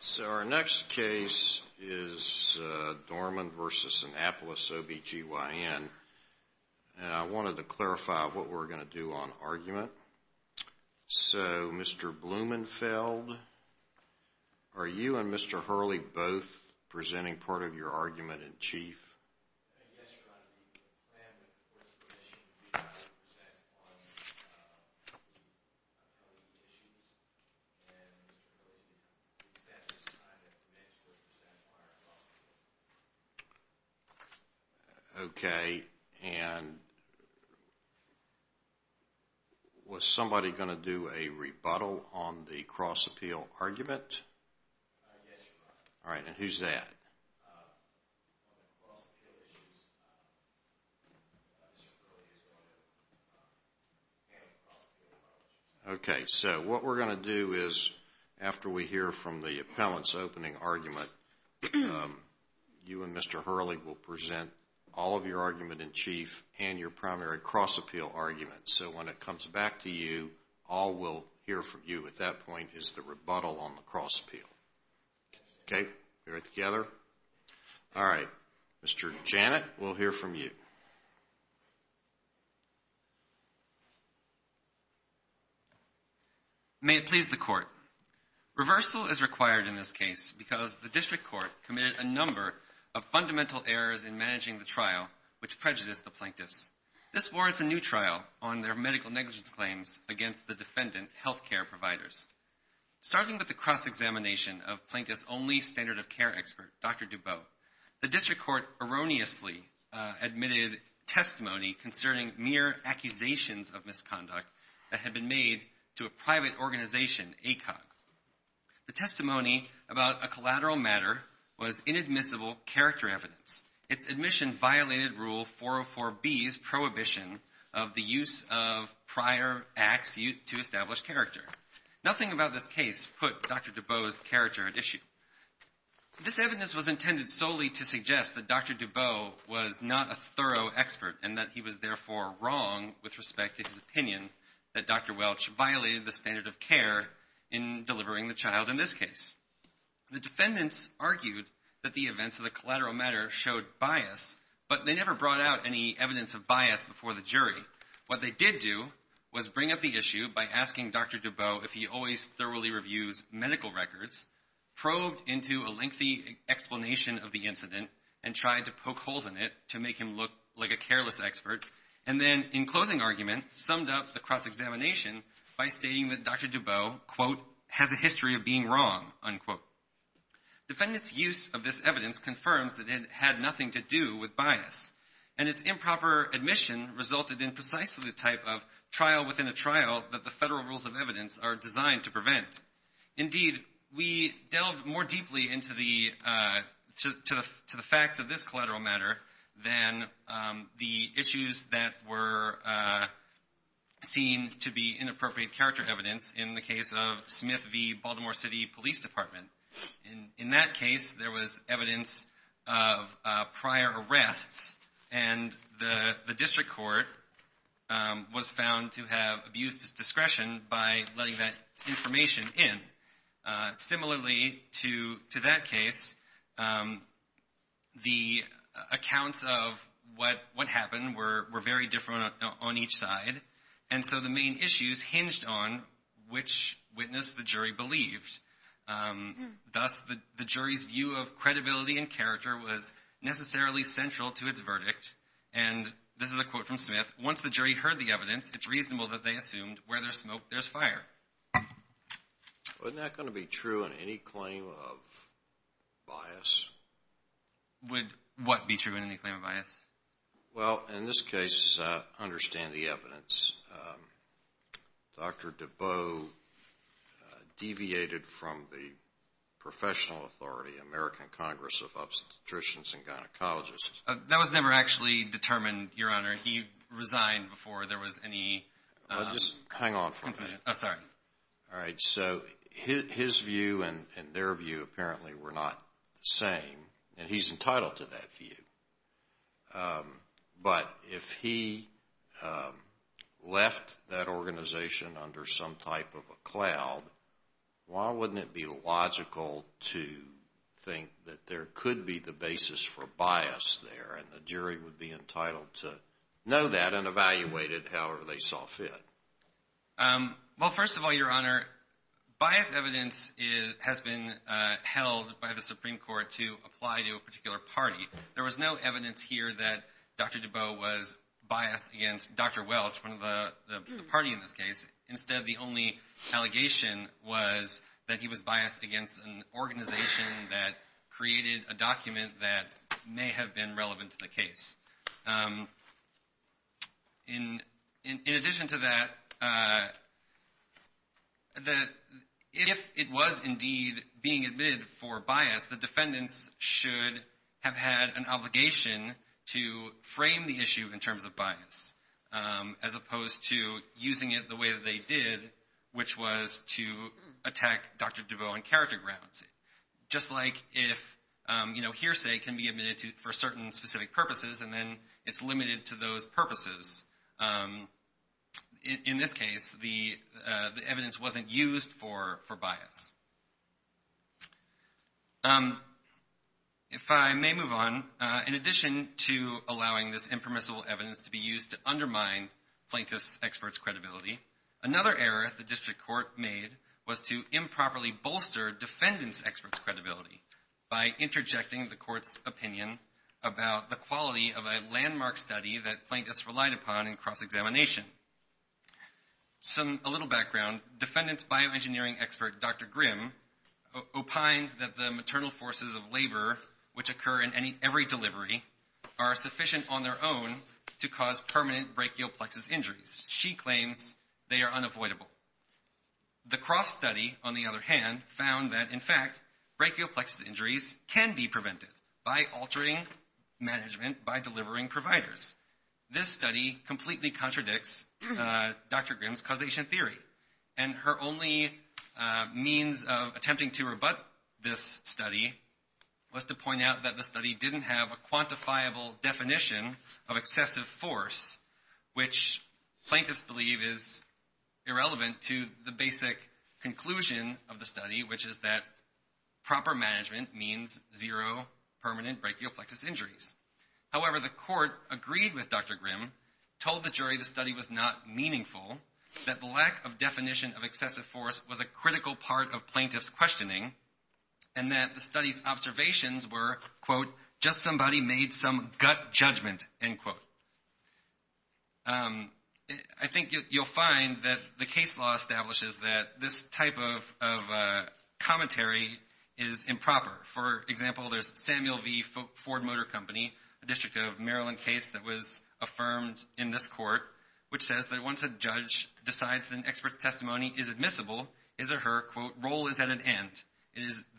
So our next case is Dorman v. Annapolis OB-GYN, and I wanted to clarify what we're going to do on argument. So, Mr. Blumenfeld, are you and Mr. Hurley both presenting part of your argument in chief? Yes, Your Honor. The plan with the court's permission is to present on the appellee issues, and Mr. Hurley's status is not to mention or present prior to the argument. Okay, and was somebody going to do a rebuttal on the cross-appeal argument? Yes, Your Honor. All right, and who's that? On the cross-appeal issues, Mr. Hurley is going to handle the cross-appeal. Okay, so what we're going to do is, after we hear from the appellant's opening argument, you and Mr. Hurley will present all of your argument in chief and your primary cross-appeal argument. So when it comes back to you, all we'll hear from you at that point is the rebuttal on the cross-appeal. Okay, all right, Mr. Janet, we'll hear from you. May it please the court. Reversal is required in this case because the district court committed a number of fundamental errors in managing the trial which prejudiced the plaintiffs. This warrants a new trial on their medical negligence claims against the defendant health care providers. Starting with the cross-examination of Plaintiff's only standard of care expert, Dr. Dubot, the district court erroneously admitted testimony concerning mere accusations of misconduct that had been made to a private organization, ACOG. The testimony about a collateral matter was inadmissible character evidence. Its admission violated Rule 404B's prohibition of the use of prior acts to establish character. Nothing about this case put Dr. Dubot's character at issue. This evidence was intended solely to suggest that Dr. Dubot was not a thorough expert and that he was therefore wrong with respect to his opinion that Dr. Welch violated the standard of care in delivering the child in this case. The defendants argued that the events of the collateral matter showed bias, but they never brought out any evidence of bias before the jury. What they did do was bring up the issue by asking Dr. Dubot if he always thoroughly reviews medical records, probed into a lengthy explanation of the incident, and tried to poke holes in it to make him look like a careless expert, and then, in closing argument, summed up the cross-examination by stating that Dr. Dubot, quote, has a history of being wrong, unquote. Defendants' use of this evidence confirms that it had nothing to do with bias, and its improper admission resulted in precisely the type of trial within a trial that the federal rules of evidence are designed to prevent. Indeed, we delved more deeply into the facts of this collateral matter than the issues that were seen to be inappropriate character evidence in the case of Smith v. Baltimore City Police Department. In that case, there was evidence of prior arrests, and the district court was found to have abused its discretion by letting that information in. Similarly to that case, the accounts of what happened were very different on each side, and so the main issues hinged on which witness the jury believed. Thus, the jury's view of credibility and character was necessarily central to its verdict, and this is a quote from Smith, once the jury heard the evidence, it's reasonable that they assumed where there's smoke, there's fire. Wasn't that going to be true in any claim of bias? Would what be true in any claim of bias? Well, in this case, understand the evidence. Dr. DeBow deviated from the professional authority, American Congress of Obstetricians and Gynecologists. That was never actually determined, Your Honor. He resigned before there was any confirmation. Hang on for a minute. Oh, sorry. All right, so his view and their view apparently were not the same, and he's entitled to that view. But if he left that organization under some type of a cloud, why wouldn't it be logical to think that there could be the basis for bias there, and the jury would be entitled to know that and evaluate it however they saw fit? Well, first of all, Your Honor, bias evidence has been held by the Supreme Court to apply to a particular party. There was no evidence here that Dr. DeBow was biased against Dr. Welch, one of the parties in this case. Instead, the only allegation was that he was biased against an organization that created a document that may have been relevant to the case. In addition to that, if it was indeed being admitted for bias, the defendants should have had an obligation to frame the issue in terms of bias, as opposed to using it the way that they did, which was to attack Dr. DeBow on character grounds. Just like if hearsay can be admitted for certain specific purposes and then it's limited to those purposes, in this case the evidence wasn't used for bias. If I may move on, in addition to allowing this impermissible evidence to be used to undermine plaintiffs' experts' credibility, another error the district court made was to improperly bolster defendants' experts' credibility by interjecting the court's opinion about the quality of a landmark study that plaintiffs relied upon in cross-examination. A little background, defendants' bioengineering expert, Dr. Grimm, opined that the maternal forces of labor, which occur in every delivery, are sufficient on their own to cause permanent brachial plexus injuries. She claims they are unavoidable. The Croft study, on the other hand, found that, in fact, brachial plexus injuries can be prevented by altering management, by delivering providers. This study completely contradicts Dr. Grimm's causation theory, and her only means of attempting to rebut this study was to point out that the study didn't have a quantifiable definition of excessive force, which plaintiffs believe is irrelevant to the basic conclusion of the study, which is that proper management means zero permanent brachial plexus injuries. However, the court agreed with Dr. Grimm, told the jury the study was not meaningful, that the lack of definition of excessive force was a critical part of plaintiffs' questioning, and that the study's observations were, quote, just somebody made some gut judgment, end quote. I think you'll find that the case law establishes that this type of commentary is improper. For example, there's Samuel V. Ford Motor Company, a District of Maryland case that was affirmed in this court, which says that once a judge decides that an expert's testimony is admissible, his or her, quote, role is at an end,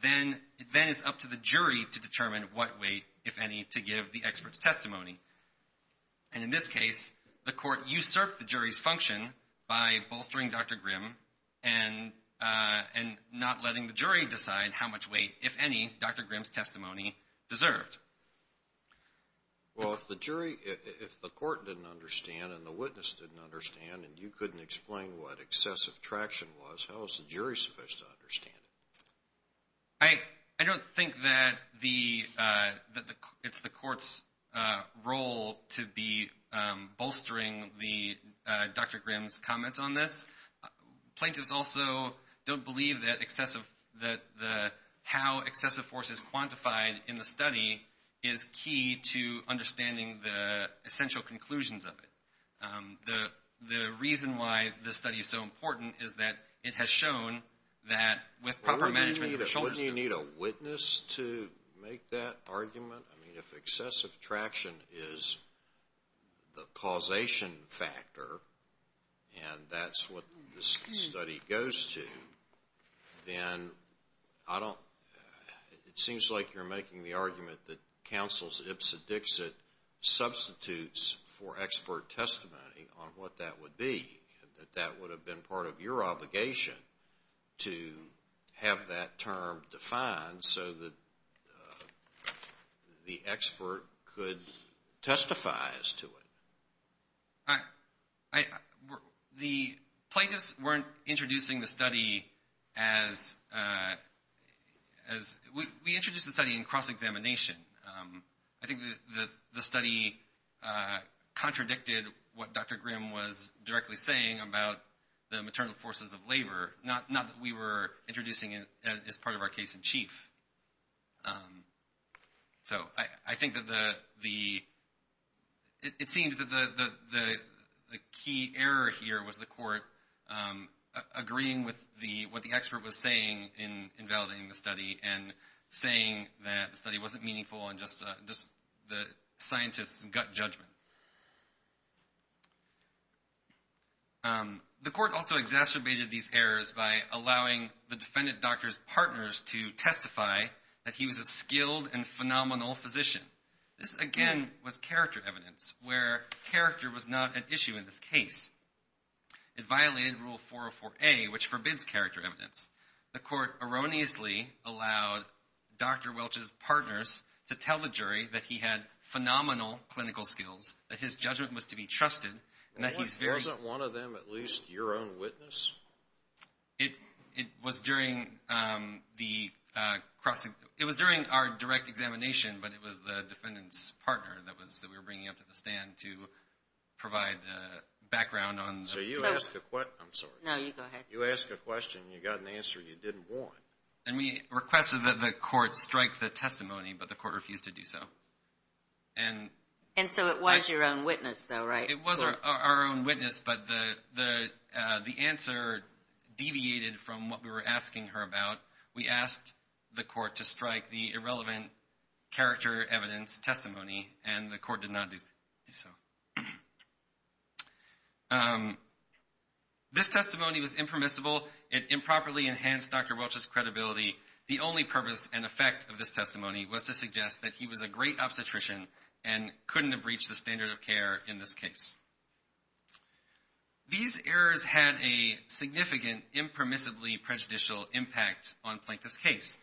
then it's up to the jury to determine what weight, if any, to give the expert's testimony. And in this case, the court usurped the jury's function by bolstering Dr. Grimm and not letting the jury decide how much weight, if any, Dr. Grimm's testimony deserved. Well, if the jury, if the court didn't understand and the witness didn't understand and you couldn't explain what excessive traction was, how was the jury supposed to understand it? I don't think that it's the court's role to be bolstering Dr. Grimm's comments on this. Plaintiffs also don't believe that how excessive force is quantified in the study is key to understanding the essential conclusions of it. The reason why this study is so important is that it has shown that with proper management of the shoulders Wouldn't you need a witness to make that argument? I mean, if excessive traction is the causation factor and that's what this study goes to, then I don't, it seems like you're making the argument that counsel's ipsa dixit substitutes for expert testimony on what that would be, that that would have been part of your obligation to have that term defined so that the expert could testify as to it. The plaintiffs weren't introducing the study as, we introduced the study in cross-examination. I think the study contradicted what Dr. Grimm was directly saying about the maternal forces of labor, not that we were introducing it as part of our case in chief. So I think that the, it seems that the key error here was the court agreeing with what the expert was saying in validating the study and saying that the study wasn't meaningful and just the scientist's gut judgment. The court also exacerbated these errors by allowing the defendant doctor's partners to testify that he was a skilled and phenomenal physician. This, again, was character evidence where character was not an issue in this case. It violated Rule 404A, which forbids character evidence. The court erroneously allowed Dr. Welch's partners to tell the jury that he had phenomenal clinical skills, that his judgment was to be trusted, and that he's very- Wasn't one of them at least your own witness? It was during the cross-examination. It was during our direct examination, but it was the defendant's partner that we were bringing up to the stand to provide the background on the- So you ask a- I'm sorry. No, you go ahead. You ask a question, you got an answer you didn't want. And we requested that the court strike the testimony, but the court refused to do so. And so it was your own witness though, right? It was our own witness, but the answer deviated from what we were asking her about. We asked the court to strike the irrelevant character evidence testimony, and the court did not do so. This testimony was impermissible. It improperly enhanced Dr. Welch's credibility. The only purpose and effect of this testimony was to suggest that he was a great obstetrician and couldn't have reached the standard of care in this case. These errors had a significant impermissibly prejudicial impact on Plankton's case.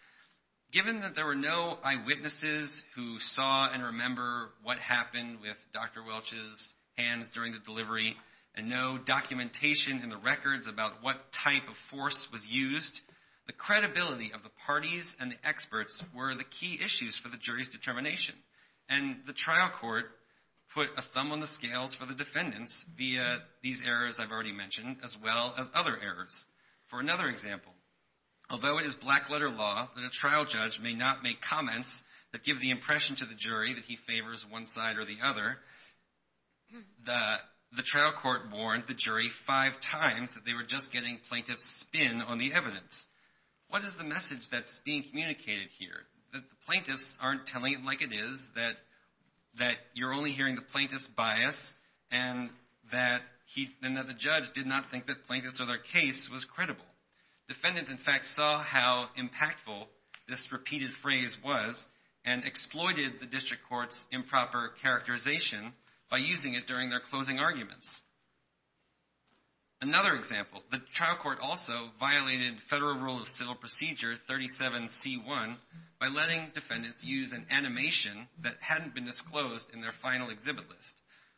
Given that there were no eyewitnesses who saw and remember what happened with Dr. Welch's hands during the delivery and no documentation in the records about what type of force was used, the credibility of the parties and the experts were the key issues for the jury's determination. And the trial court put a thumb on the scales for the defendants via these errors I've already mentioned as well as other errors. For another example, although it is black-letter law that a trial judge may not make comments that give the impression to the jury that he favors one side or the other, the trial court warned the jury five times that they were just getting plaintiffs' spin on the evidence. What is the message that's being communicated here? That the plaintiffs aren't telling it like it is, that you're only hearing the plaintiff's bias, and that the judge did not think that plaintiffs or their case was credible. Defendants, in fact, saw how impactful this repeated phrase was and exploited the district court's improper characterization by using it during their closing arguments. Another example, the trial court also violated Federal Rule of Civil Procedure 37C1 by letting defendants use an animation that hadn't been disclosed in their final exhibit list,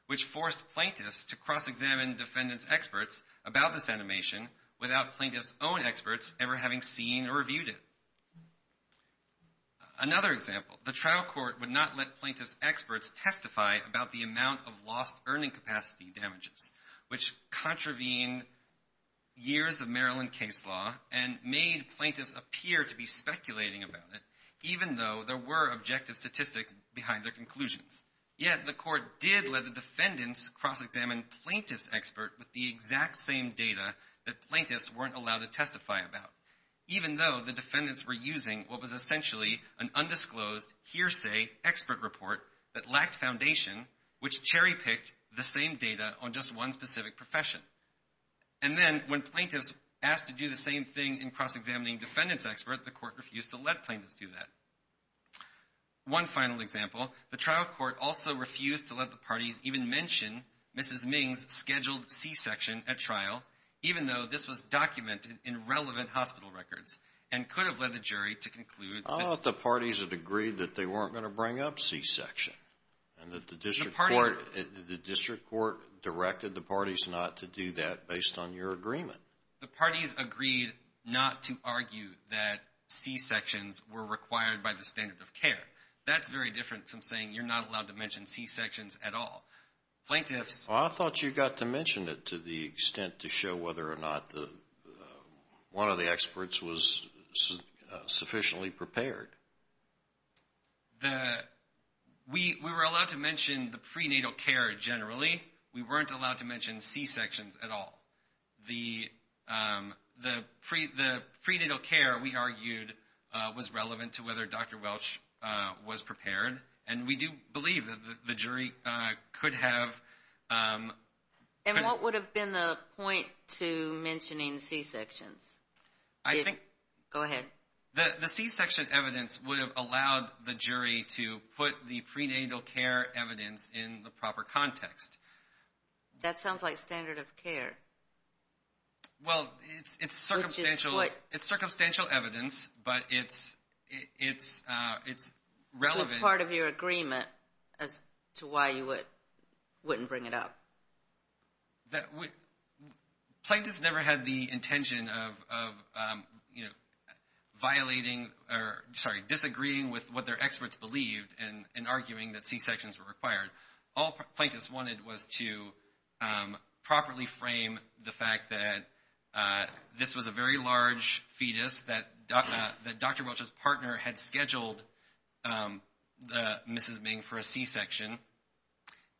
which forced plaintiffs to cross-examine defendants' experts about this animation without plaintiffs' own experts ever having seen or reviewed it. Another example, the trial court would not let plaintiffs' experts testify about the amount of lost earning capacity damages, which contravened years of Maryland case law and made plaintiffs appear to be speculating about it, even though there were objective statistics behind their conclusions. Yet the court did let the defendants cross-examine plaintiffs' experts with the exact same data that plaintiffs weren't allowed to testify about, even though the defendants were using what was essentially an undisclosed hearsay expert report that lacked foundation, which cherry-picked the same data on just one specific profession. And then when plaintiffs asked to do the same thing in cross-examining defendants' experts, the court refused to let plaintiffs do that. One final example, the trial court also refused to let the parties even mention Mrs. Ming's scheduled C-section at trial, even though this was documented in relevant hospital records and could have led the jury to conclude that... I thought the parties had agreed that they weren't going to bring up C-section and that the district court directed the parties not to do that based on your agreement. The parties agreed not to argue that C-sections were required by the standard of care. That's very different from saying you're not allowed to mention C-sections at all. Plaintiffs... Well, I thought you got to mention it to the extent to show whether or not one of the experts was sufficiently prepared. We were allowed to mention the prenatal care generally. We weren't allowed to mention C-sections at all. The prenatal care, we argued, was relevant to whether Dr. Welch was prepared, and we do believe that the jury could have... And what would have been the point to mentioning C-sections? I think... Go ahead. The C-section evidence would have allowed the jury to put the prenatal care evidence in the proper context. That sounds like standard of care. Well, it's circumstantial evidence, but it's relevant... Part of your agreement as to why you wouldn't bring it up. Plaintiffs never had the intention of violating or, sorry, disagreeing with what their experts believed and arguing that C-sections were required. All plaintiffs wanted was to properly frame the fact that this was a very large fetus that Dr. Welch's partner had scheduled Mrs. Ming for a C-section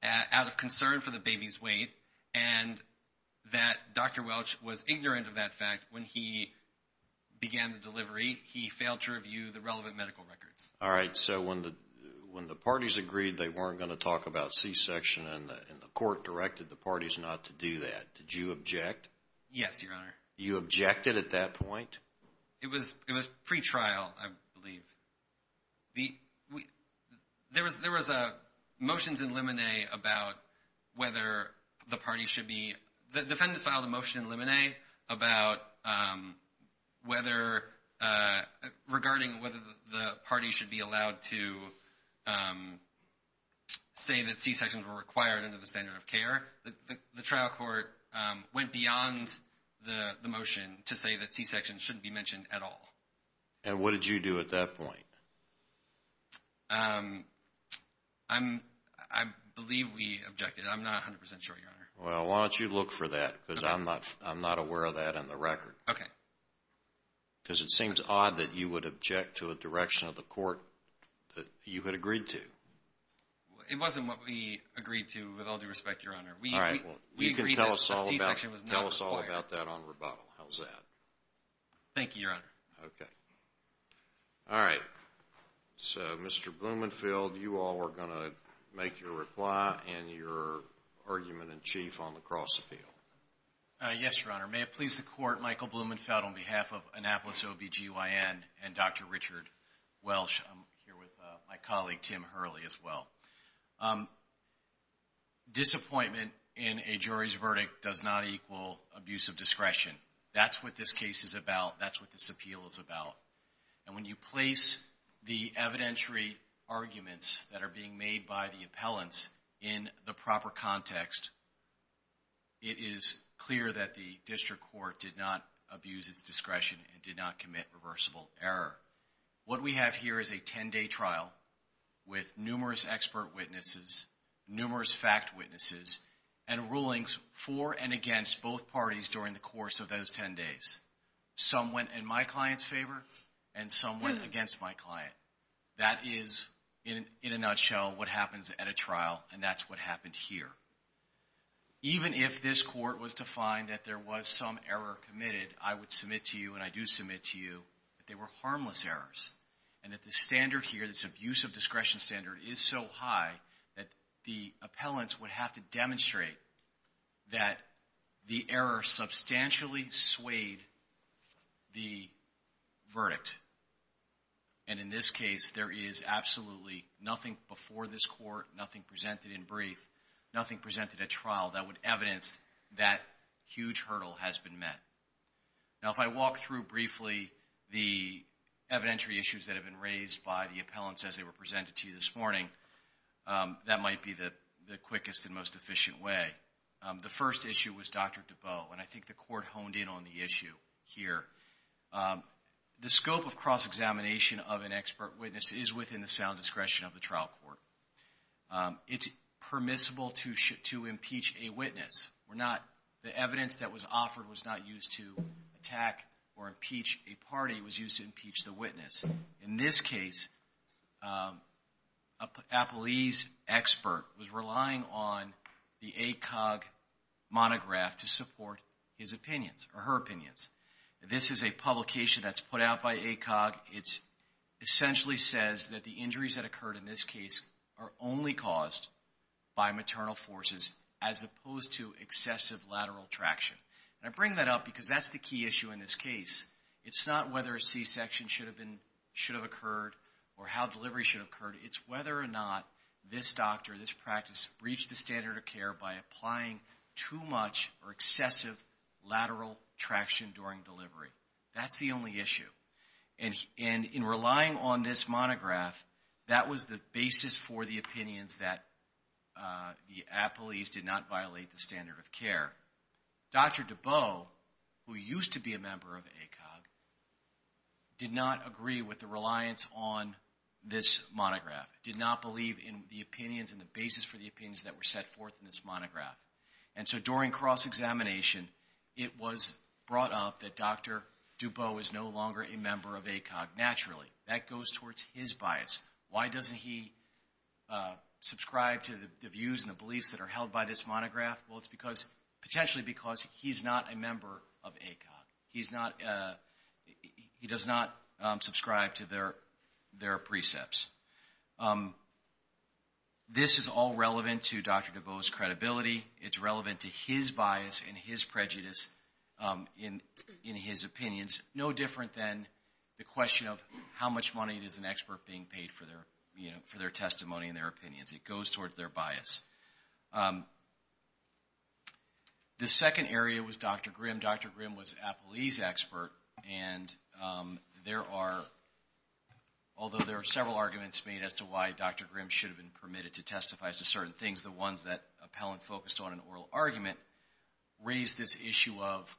out of concern for the baby's weight, and that Dr. Welch was ignorant of that fact when he began the delivery. He failed to review the relevant medical records. All right. So when the parties agreed they weren't going to talk about C-section and the court directed the parties not to do that, did you object? Yes, Your Honor. You objected at that point? It was pre-trial, I believe. There was motions in Lemonet about whether the parties should be... The defendants filed a motion in Lemonet regarding whether the parties should be allowed to say that C-sections were required under the standard of care. The trial court went beyond the motion to say that C-sections shouldn't be mentioned at all. And what did you do at that point? I believe we objected. I'm not 100% sure, Your Honor. Well, why don't you look for that because I'm not aware of that in the record. Okay. Because it seems odd that you would object to a direction of the court that you had agreed to. It wasn't what we agreed to, with all due respect, Your Honor. We agreed that the C-section was not required. Tell us all about that on rebuttal. How's that? Thank you, Your Honor. Okay. All right. So, Mr. Blumenfield, you all are going to make your reply and your argument in chief on the cross-appeal. Yes, Your Honor. May it please the Court, Michael Blumenfield on behalf of Annapolis OB-GYN and Dr. Richard Welsh. I'm here with my colleague, Tim Hurley, as well. Disappointment in a jury's verdict does not equal abuse of discretion. That's what this case is about. That's what this appeal is about. And when you place the evidentiary arguments that are being made by the appellants in the proper context, it is clear that the district court did not abuse its discretion and did not commit reversible error. What we have here is a 10-day trial with numerous expert witnesses, numerous fact witnesses, and rulings for and against both parties during the course of those 10 days. Some went in my client's favor and some went against my client. That is, in a nutshell, what happens at a trial, and that's what happened here. Even if this court was to find that there was some error committed, I would submit to you, and I do submit to you, that they were harmless errors and that the standard here, this abuse of discretion standard, is so high that the appellants would have to demonstrate that the error substantially swayed the verdict. And in this case, there is absolutely nothing before this court, nothing presented in brief, nothing presented at trial that would evidence that huge hurdle has been met. Now, if I walk through briefly the evidentiary issues that have been raised by the appellants as they were presented to you this morning, that might be the quickest and most efficient way. The first issue was Dr. Dubow, and I think the court honed in on the issue here. The scope of cross-examination of an expert witness is within the sound discretion of the trial court. The evidence that was offered was not used to attack or impeach a party. It was used to impeach the witness. In this case, a police expert was relying on the ACOG monograph to support his opinions or her opinions. This is a publication that's put out by ACOG. It essentially says that the injuries that occurred in this case are only caused by maternal forces as opposed to excessive lateral traction. And I bring that up because that's the key issue in this case. It's not whether a C-section should have occurred or how delivery should have occurred. It's whether or not this doctor or this practice reached the standard of care by applying too much or excessive lateral traction during delivery. That's the only issue. And in relying on this monograph, that was the basis for the opinions that the police did not violate the standard of care. Dr. Dubow, who used to be a member of ACOG, did not agree with the reliance on this monograph, did not believe in the opinions and the basis for the opinions that were set forth in this monograph. And so during cross-examination, it was brought up that Dr. Dubow is no longer a member of ACOG naturally. That goes towards his bias. Why doesn't he subscribe to the views and the beliefs that are held by this monograph? Well, it's potentially because he's not a member of ACOG. He does not subscribe to their precepts. This is all relevant to Dr. Dubow's credibility. It's relevant to his bias and his prejudice in his opinions. No different than the question of how much money is an expert being paid for their testimony and their opinions. It goes towards their bias. The second area was Dr. Grimm. Dr. Grimm was a police expert, and there are, although there are several arguments made as to why Dr. Grimm should have been permitted to testify as to certain things, the ones that appellant focused on in oral argument raised this issue of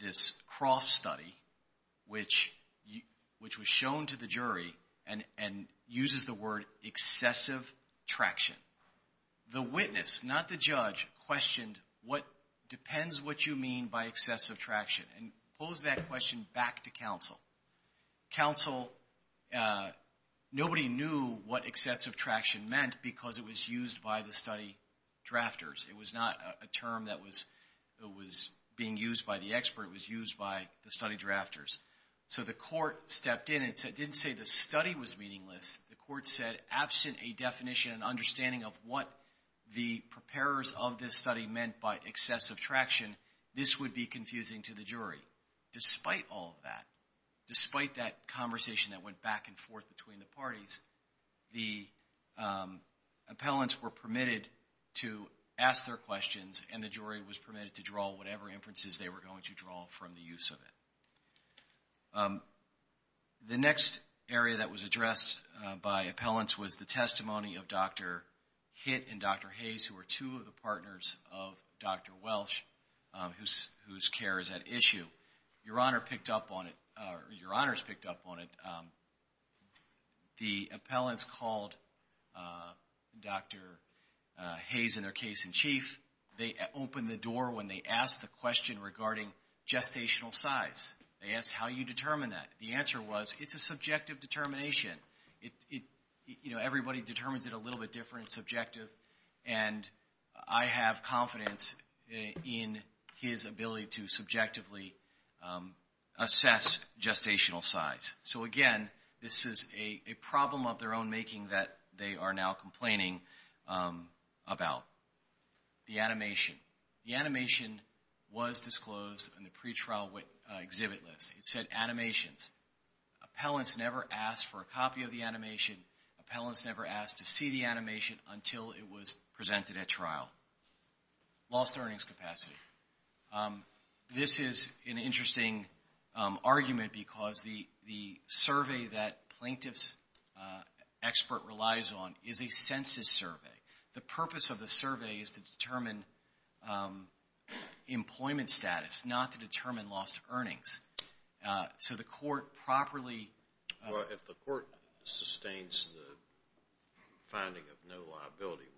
this Croft study, which was shown to the jury and uses the word excessive traction. The witness, not the judge, questioned what depends what you mean by excessive traction and posed that question back to counsel. Counsel, nobody knew what excessive traction meant because it was used by the study drafters. It was not a term that was being used by the expert. It was used by the study drafters. So the court stepped in and didn't say the study was meaningless. The court said, absent a definition and understanding of what the preparers of this study meant by excessive traction, this would be confusing to the jury. Despite all of that, despite that conversation that went back and forth between the parties, the appellants were permitted to ask their questions, and the jury was permitted to draw whatever inferences they were going to draw from the use of it. The next area that was addressed by appellants was the testimony of Dr. Hitt and Dr. Hayes, who were two of the partners of Dr. Welsh, whose care is at issue. Your Honor picked up on it, or your Honors picked up on it. The appellants called Dr. Hayes and their case in chief. They opened the door when they asked the question regarding gestational size. They asked how you determine that. The answer was, it's a subjective determination. Everybody determines it a little bit different and subjective, and I have confidence in his ability to subjectively assess gestational size. Again, this is a problem of their own making that they are now complaining about. The animation. The animation was disclosed in the pretrial exhibit list. It said animations. Appellants never asked for a copy of the animation. Appellants never asked to see the animation until it was presented at trial. Lost earnings capacity. This is an interesting argument because the survey that plaintiff's expert relies on is a census survey. The purpose of the survey is to determine employment status, not to determine lost earnings. So the court properly— Well, if the court sustains the finding of no liability,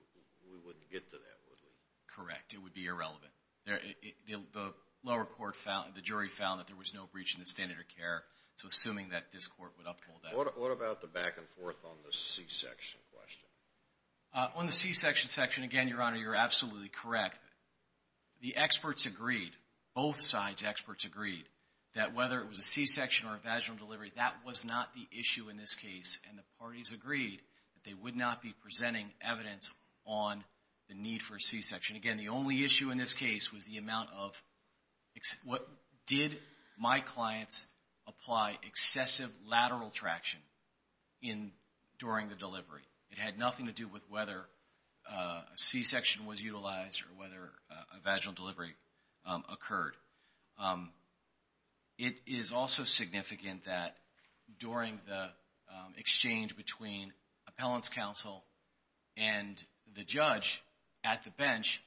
we wouldn't get to that, would we? Correct. It would be irrelevant. The lower court found—the jury found that there was no breach in the standard of care, so assuming that this court would uphold that. What about the back-and-forth on the C-section question? On the C-section section, again, Your Honor, you're absolutely correct. The experts agreed. Both sides' experts agreed that whether it was a C-section or a vaginal delivery, that was not the issue in this case, and the parties agreed that they would not be presenting evidence on the need for a C-section. Again, the only issue in this case was the amount of— Did my clients apply excessive lateral traction during the delivery? It had nothing to do with whether a C-section was utilized or whether a vaginal delivery occurred. It is also significant that during the exchange between appellants' counsel and the judge at the bench,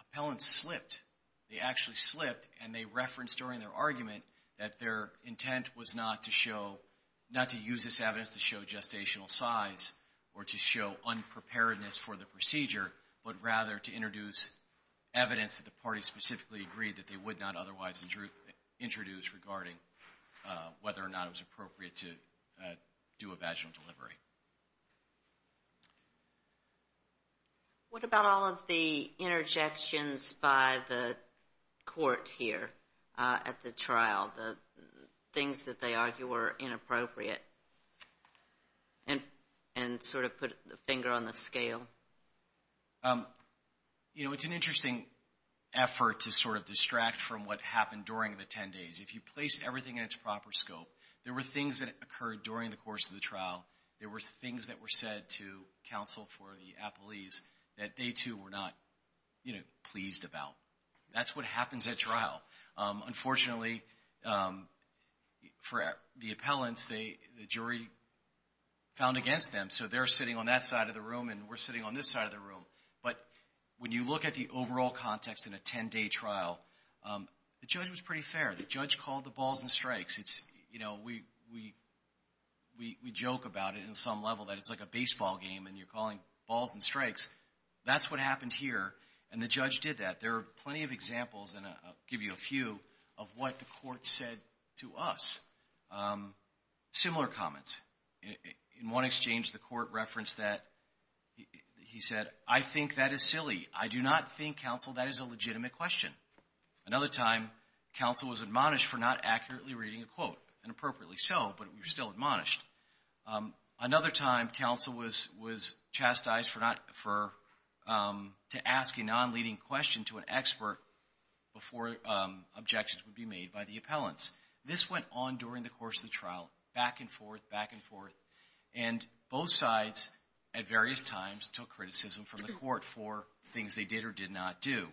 appellants slipped. They actually slipped, and they referenced during their argument that their intent was not to show— not to use this evidence to show gestational size or to show unpreparedness for the procedure, but rather to introduce evidence that the parties specifically agreed that they would not otherwise introduce regarding whether or not it was appropriate to do a vaginal delivery. What about all of the interjections by the court here at the trial, the things that they argue were inappropriate, and sort of put the finger on the scale? You know, it's an interesting effort to sort of distract from what happened during the 10 days. If you place everything in its proper scope, there were things that occurred during the course of the trial. There were things that were said to counsel for the appellees that they, too, were not, you know, pleased about. That's what happens at trial. Unfortunately, for the appellants, the jury found against them. So they're sitting on that side of the room, and we're sitting on this side of the room. But when you look at the overall context in a 10-day trial, the judge was pretty fair. The judge called the balls and strikes. You know, we joke about it in some level that it's like a baseball game, and you're calling balls and strikes. That's what happened here, and the judge did that. There are plenty of examples, and I'll give you a few, of what the court said to us. Similar comments. In one exchange, the court referenced that. He said, I think that is silly. I do not think, counsel, that is a legitimate question. Another time, counsel was admonished for not accurately reading a quote. And appropriately so, but we were still admonished. Another time, counsel was chastised to ask a non-leading question to an expert before objections would be made by the appellants. This went on during the course of the trial, back and forth, back and forth. And both sides, at various times, took criticism from the court for things they did or did not do.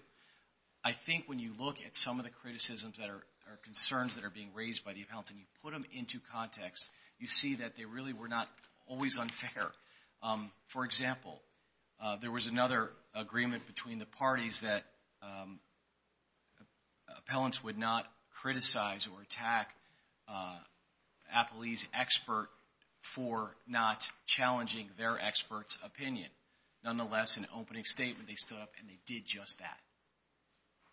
I think when you look at some of the criticisms or concerns that are being raised by the appellants and you put them into context, you see that they really were not always unfair. For example, there was another agreement between the parties that appellants would not criticize or attack an appellee's expert for not challenging their expert's opinion. Nonetheless, in an opening statement, they stood up and they did just that.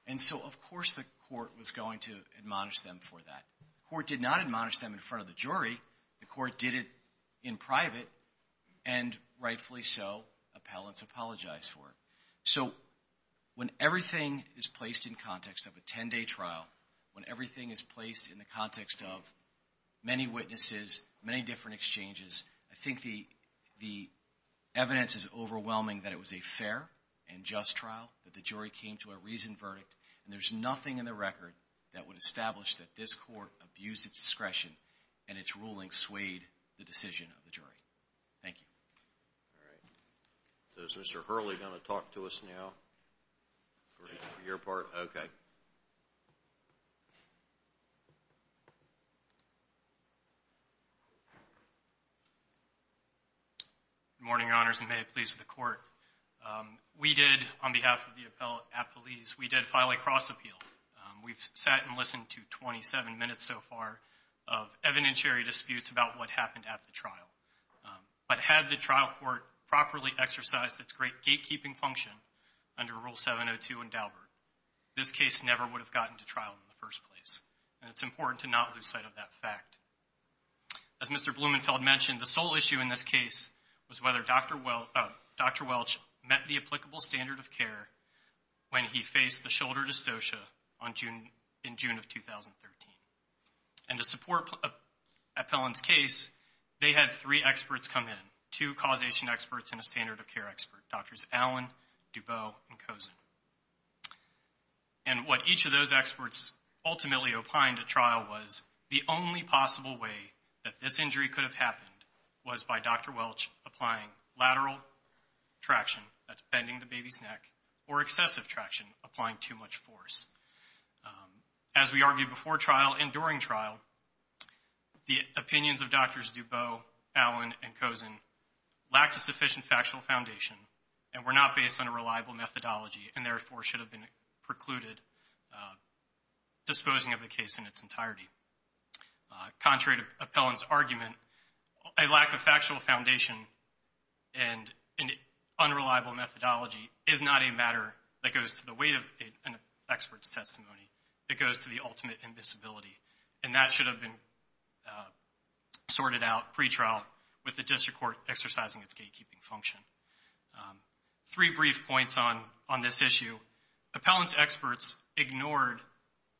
And so, of course, the court was going to admonish them for that. The court did not admonish them in front of the jury. The court did it in private, and rightfully so, appellants apologized for it. So when everything is placed in context of a 10-day trial, when everything is placed in the context of many witnesses, many different exchanges, I think the evidence is overwhelming that it was a fair and just trial, that the jury came to a reasoned verdict, and there's nothing in the record that would establish that this court abused its discretion and its ruling swayed the decision of the jury. Thank you. All right. So is Mr. Hurley going to talk to us now for your part? Okay. Good morning, Your Honors, and may it please the Court. We did, on behalf of the appellees, we did file a cross-appeal. We've sat and listened to 27 minutes so far of evidentiary disputes about what happened at the trial. But had the trial court properly exercised its great gatekeeping function under Rule 702 in Daubert, this case never would have gotten to trial in the first place. And it's important to not lose sight of that fact. As Mr. Blumenfeld mentioned, the sole issue in this case was whether Dr. Welch met the applicable standard of care when he faced the shoulder dystocia in June of 2013. And to support Appellant's case, they had three experts come in, two causation experts and a standard of care expert, Drs. Allen, Dubow, and Kozin. And what each of those experts ultimately opined at trial was the only possible way that this injury could have happened was by Dr. Welch applying lateral traction, that's bending the baby's neck, or excessive traction, applying too much force. As we argued before trial and during trial, the opinions of Drs. Dubow, Allen, and Kozin lacked a sufficient factual foundation and were not based on a reliable methodology and therefore should have been precluded disposing of the case in its entirety. Contrary to Appellant's argument, a lack of factual foundation and unreliable methodology is not a matter that goes to the weight of an expert's testimony. It goes to the ultimate invisibility. And that should have been sorted out pre-trial with the district court exercising its gatekeeping function. Three brief points on this issue. Appellant's experts ignored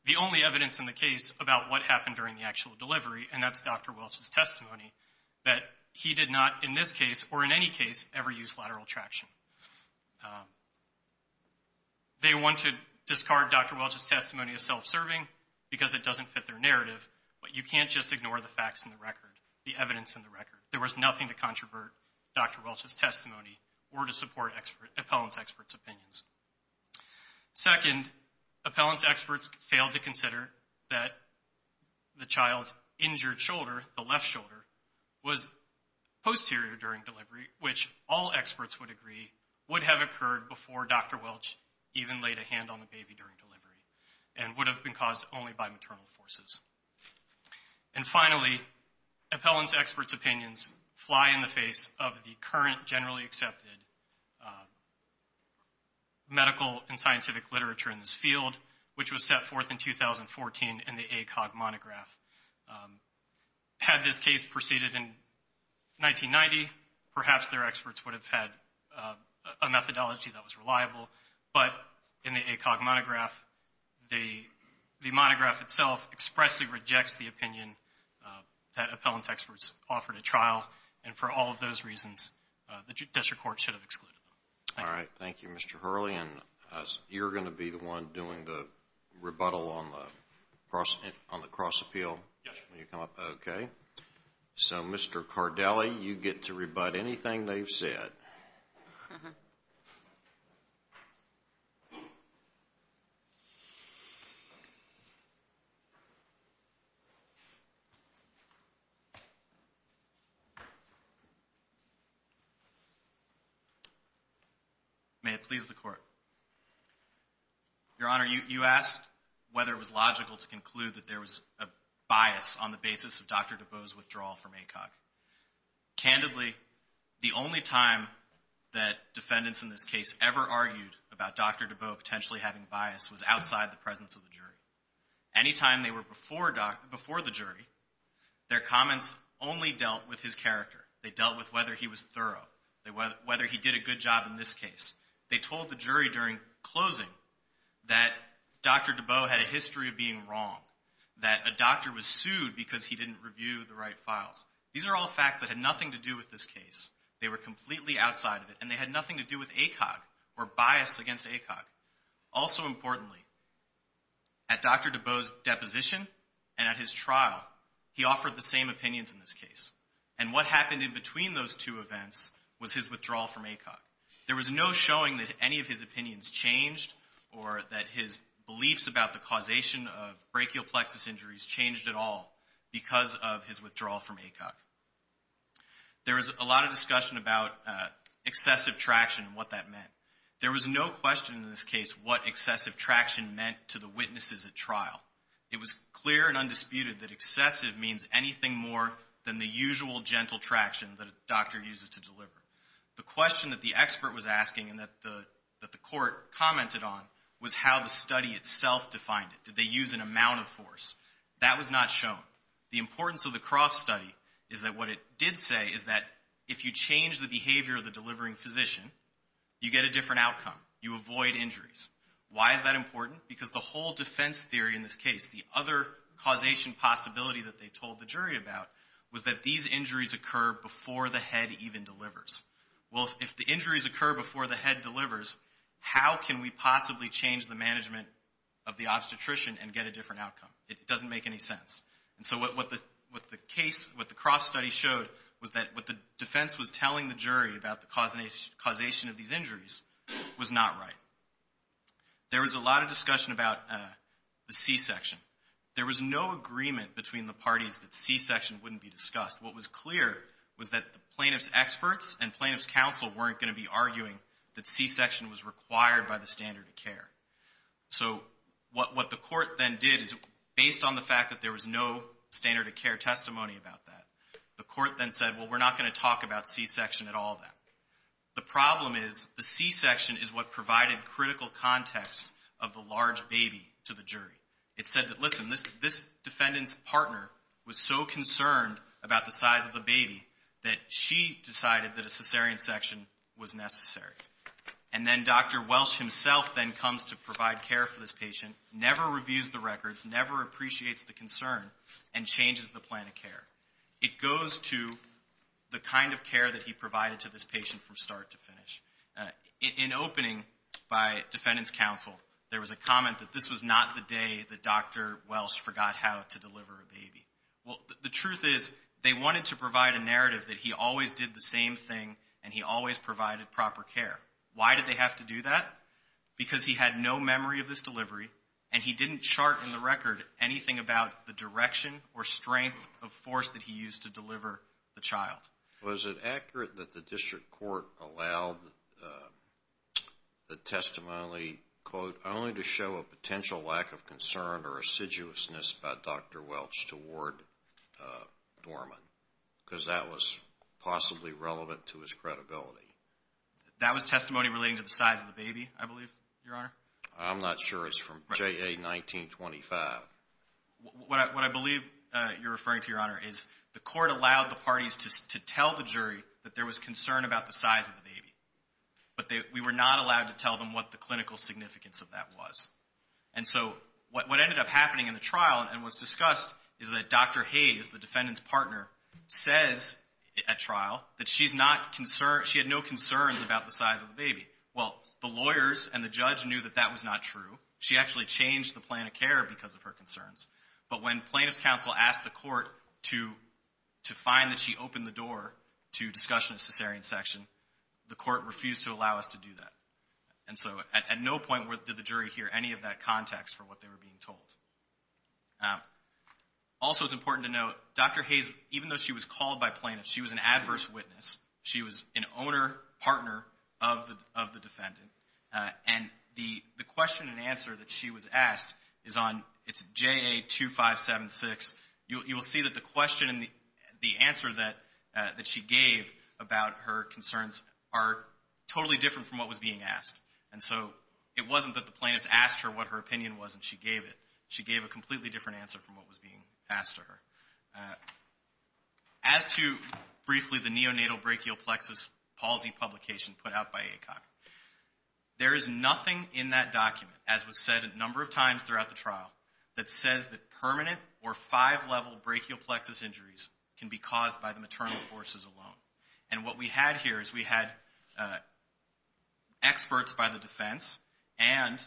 the only evidence in the case about what happened during the actual delivery, and that's Dr. Welch's testimony, that he did not, in this case or in any case, ever use lateral traction. They want to discard Dr. Welch's testimony as self-serving because it doesn't fit their narrative, but you can't just ignore the facts in the record, the evidence in the record. There was nothing to controvert Dr. Welch's testimony or to support Appellant's experts' opinions. Second, Appellant's experts failed to consider that the child's injured shoulder, the left shoulder, was posterior during delivery, which all experts would agree would have occurred before Dr. Welch even laid a hand on the baby during delivery and would have been caused only by maternal forces. And finally, Appellant's experts' opinions fly in the face of the current generally accepted medical and scientific literature in this field, which was set forth in 2014 in the ACOG monograph. Had this case proceeded in 1990, perhaps their experts would have had a methodology that was reliable, but in the ACOG monograph, the monograph itself expressly rejects the opinion that Appellant's experts offered at trial, and for all of those reasons, the district court should have excluded them. Thank you. All right, thank you, Mr. Hurley, and you're going to be the one doing the rebuttal on the cross appeal? Yes. Will you come up? Okay. So, Mr. Cardelli, you get to rebut anything they've said. May it please the Court. Your Honor, you asked whether it was logical to conclude that there was a bias on the basis of Dr. DeBow's withdrawal from ACOG. Candidly, the only time that defendants in this case ever argued about Dr. DeBow potentially having bias was outside the presence of the jury. Any time they were before the jury, their comments only dealt with his character. They dealt with whether he was thorough, whether he did a good job in this case. They told the jury during closing that Dr. DeBow had a history of being wrong, that a doctor was sued because he didn't review the right files. These are all facts that had nothing to do with this case. They were completely outside of it, and they had nothing to do with ACOG or bias against ACOG. Also importantly, at Dr. DeBow's deposition and at his trial, he offered the same opinions in this case, and what happened in between those two events was his withdrawal from ACOG. There was no showing that any of his opinions changed or that his beliefs about the causation of brachial plexus injuries changed at all because of his withdrawal from ACOG. There was a lot of discussion about excessive traction and what that meant. There was no question in this case what excessive traction meant to the witnesses at trial. It was clear and undisputed that excessive means anything more than the usual gentle traction that a doctor uses to deliver. The question that the expert was asking and that the court commented on was how the study itself defined it. Did they use an amount of force? That was not shown. The importance of the Croft study is that what it did say is that if you change the behavior of the delivering physician, you get a different outcome. You avoid injuries. Why is that important? Because the whole defense theory in this case, the other causation possibility that they told the jury about, was that these injuries occur before the head even delivers. Well, if the injuries occur before the head delivers, how can we possibly change the management of the obstetrician and get a different outcome? It doesn't make any sense. And so what the Croft study showed was that what the defense was telling the jury about the causation of these injuries was not right. There was a lot of discussion about the C-section. There was no agreement between the parties that C-section wouldn't be discussed. What was clear was that the plaintiff's experts and plaintiff's counsel weren't going to be arguing that C-section was required by the standard of care. So what the court then did is, based on the fact that there was no standard of care testimony about that, the court then said, well, we're not going to talk about C-section at all then. The problem is the C-section is what provided critical context of the large baby to the jury. It said that, listen, this defendant's partner was so concerned about the size of the baby that she decided that a cesarean section was necessary. And then Dr. Welsh himself then comes to provide care for this patient, never reviews the records, never appreciates the concern, and changes the plan of care. It goes to the kind of care that he provided to this patient from start to finish. In opening by defendant's counsel, there was a comment that this was not the day that Dr. Welsh forgot how to deliver a baby. Well, the truth is they wanted to provide a narrative that he always did the same thing and he always provided proper care. Why did they have to do that? Because he had no memory of this delivery and he didn't chart in the record anything about the direction or strength of force that he used to deliver the child. Was it accurate that the district court allowed the testimony, quote, only to show a potential lack of concern or assiduousness about Dr. Welsh toward Dorman? Because that was possibly relevant to his credibility. That was testimony relating to the size of the baby, I believe, Your Honor. I'm not sure. It's from JA 1925. What I believe you're referring to, Your Honor, is the court allowed the parties to tell the jury that there was concern about the size of the baby. But we were not allowed to tell them what the clinical significance of that was. And so what ended up happening in the trial and was discussed is that Dr. Hayes, the defendant's partner, says at trial that she had no concerns about the size of the baby. Well, the lawyers and the judge knew that that was not true. She actually changed the plan of care because of her concerns. But when plaintiff's counsel asked the court to find that she opened the door to discussion of cesarean section, the court refused to allow us to do that. And so at no point did the jury hear any of that context for what they were being told. Also, it's important to note, Dr. Hayes, even though she was called by plaintiffs, she was an adverse witness. She was an owner, partner of the defendant. And the question and answer that she was asked is on JA 2576. You will see that the question and the answer that she gave about her concerns are totally different from what was being asked. And so it wasn't that the plaintiffs asked her what her opinion was and she gave it. She gave a completely different answer from what was being asked of her. As to, briefly, the neonatal brachial plexus palsy publication put out by ACOC, there is nothing in that document, as was said a number of times throughout the trial, that says that permanent or five-level brachial plexus injuries can be caused by the maternal forces alone. And what we had here is we had experts by the defense and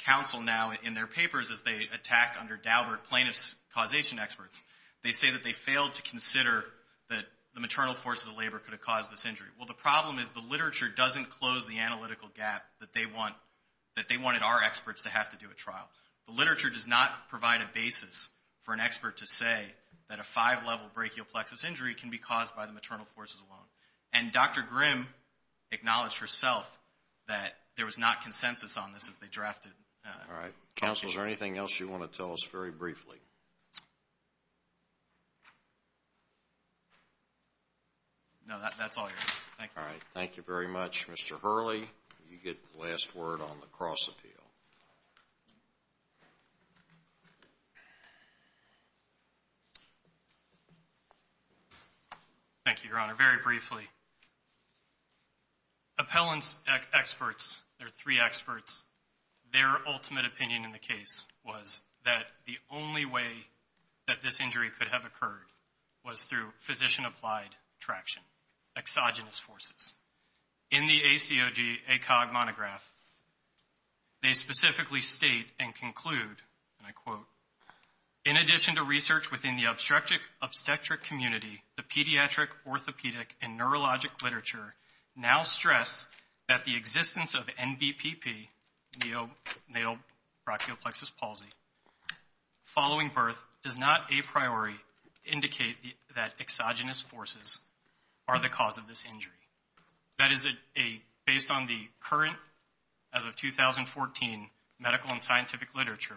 counsel now in their papers as they attack under Daubert plaintiff's causation experts. They say that they failed to consider that the maternal forces of labor could have caused this injury. Well, the problem is the literature doesn't close the analytical gap that they wanted our experts to have to do at trial. The literature does not provide a basis for an expert to say that a five-level brachial plexus injury can be caused by the maternal forces alone. And Dr. Grimm acknowledged herself that there was not consensus on this as they drafted. All right. Counsel, is there anything else you want to tell us very briefly? All right. Thank you very much. Mr. Hurley, you get the last word on the cross-appeal. Thank you, Your Honor. Very briefly, appellants experts, there are three experts, their ultimate opinion in the case was that the only way that this injury could have occurred was through physician-applied traction, exogenous forces. In the ACOG monograph, they specifically state and conclude, and I quote, in addition to research within the obstetric community, the pediatric, orthopedic, and neurologic literature now stress that the existence of NBPP, neonatal brachial plexus palsy, following birth, does not a priori indicate that exogenous forces are the cause of this injury. That is based on the current, as of 2014, medical and scientific literature,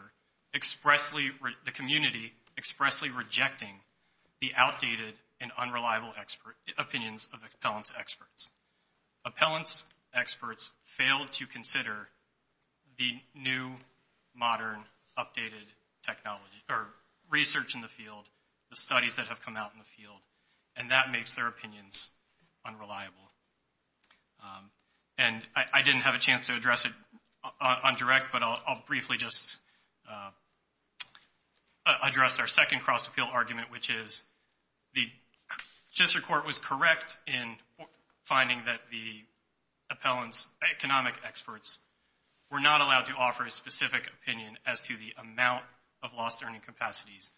the community expressly rejecting the outdated and unreliable opinions of appellants experts. Appellants experts failed to consider the new, modern, updated technology, or research in the field, the studies that have come out in the field, and that makes their opinions unreliable. And I didn't have a chance to address it on direct, but I'll briefly just address our second cross-appeal argument, which is the district court was correct in finding that the appellant's economic experts were not allowed to offer a specific opinion as to the amount of lost earning capacities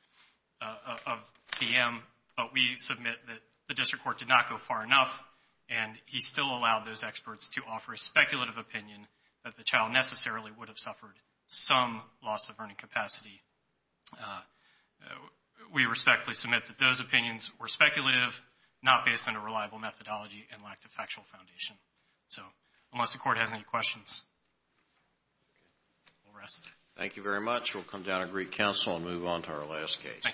of PM, but we submit that the district court did not go far enough, and he still allowed those experts to offer a speculative opinion that the child necessarily would have suffered some loss of earning capacity. We respectfully submit that those opinions were speculative, not based on a reliable methodology, and lacked a factual foundation. So, unless the court has any questions, we'll rest. Thank you very much. We'll come down to Greek Council and move on to our last case. Thank you.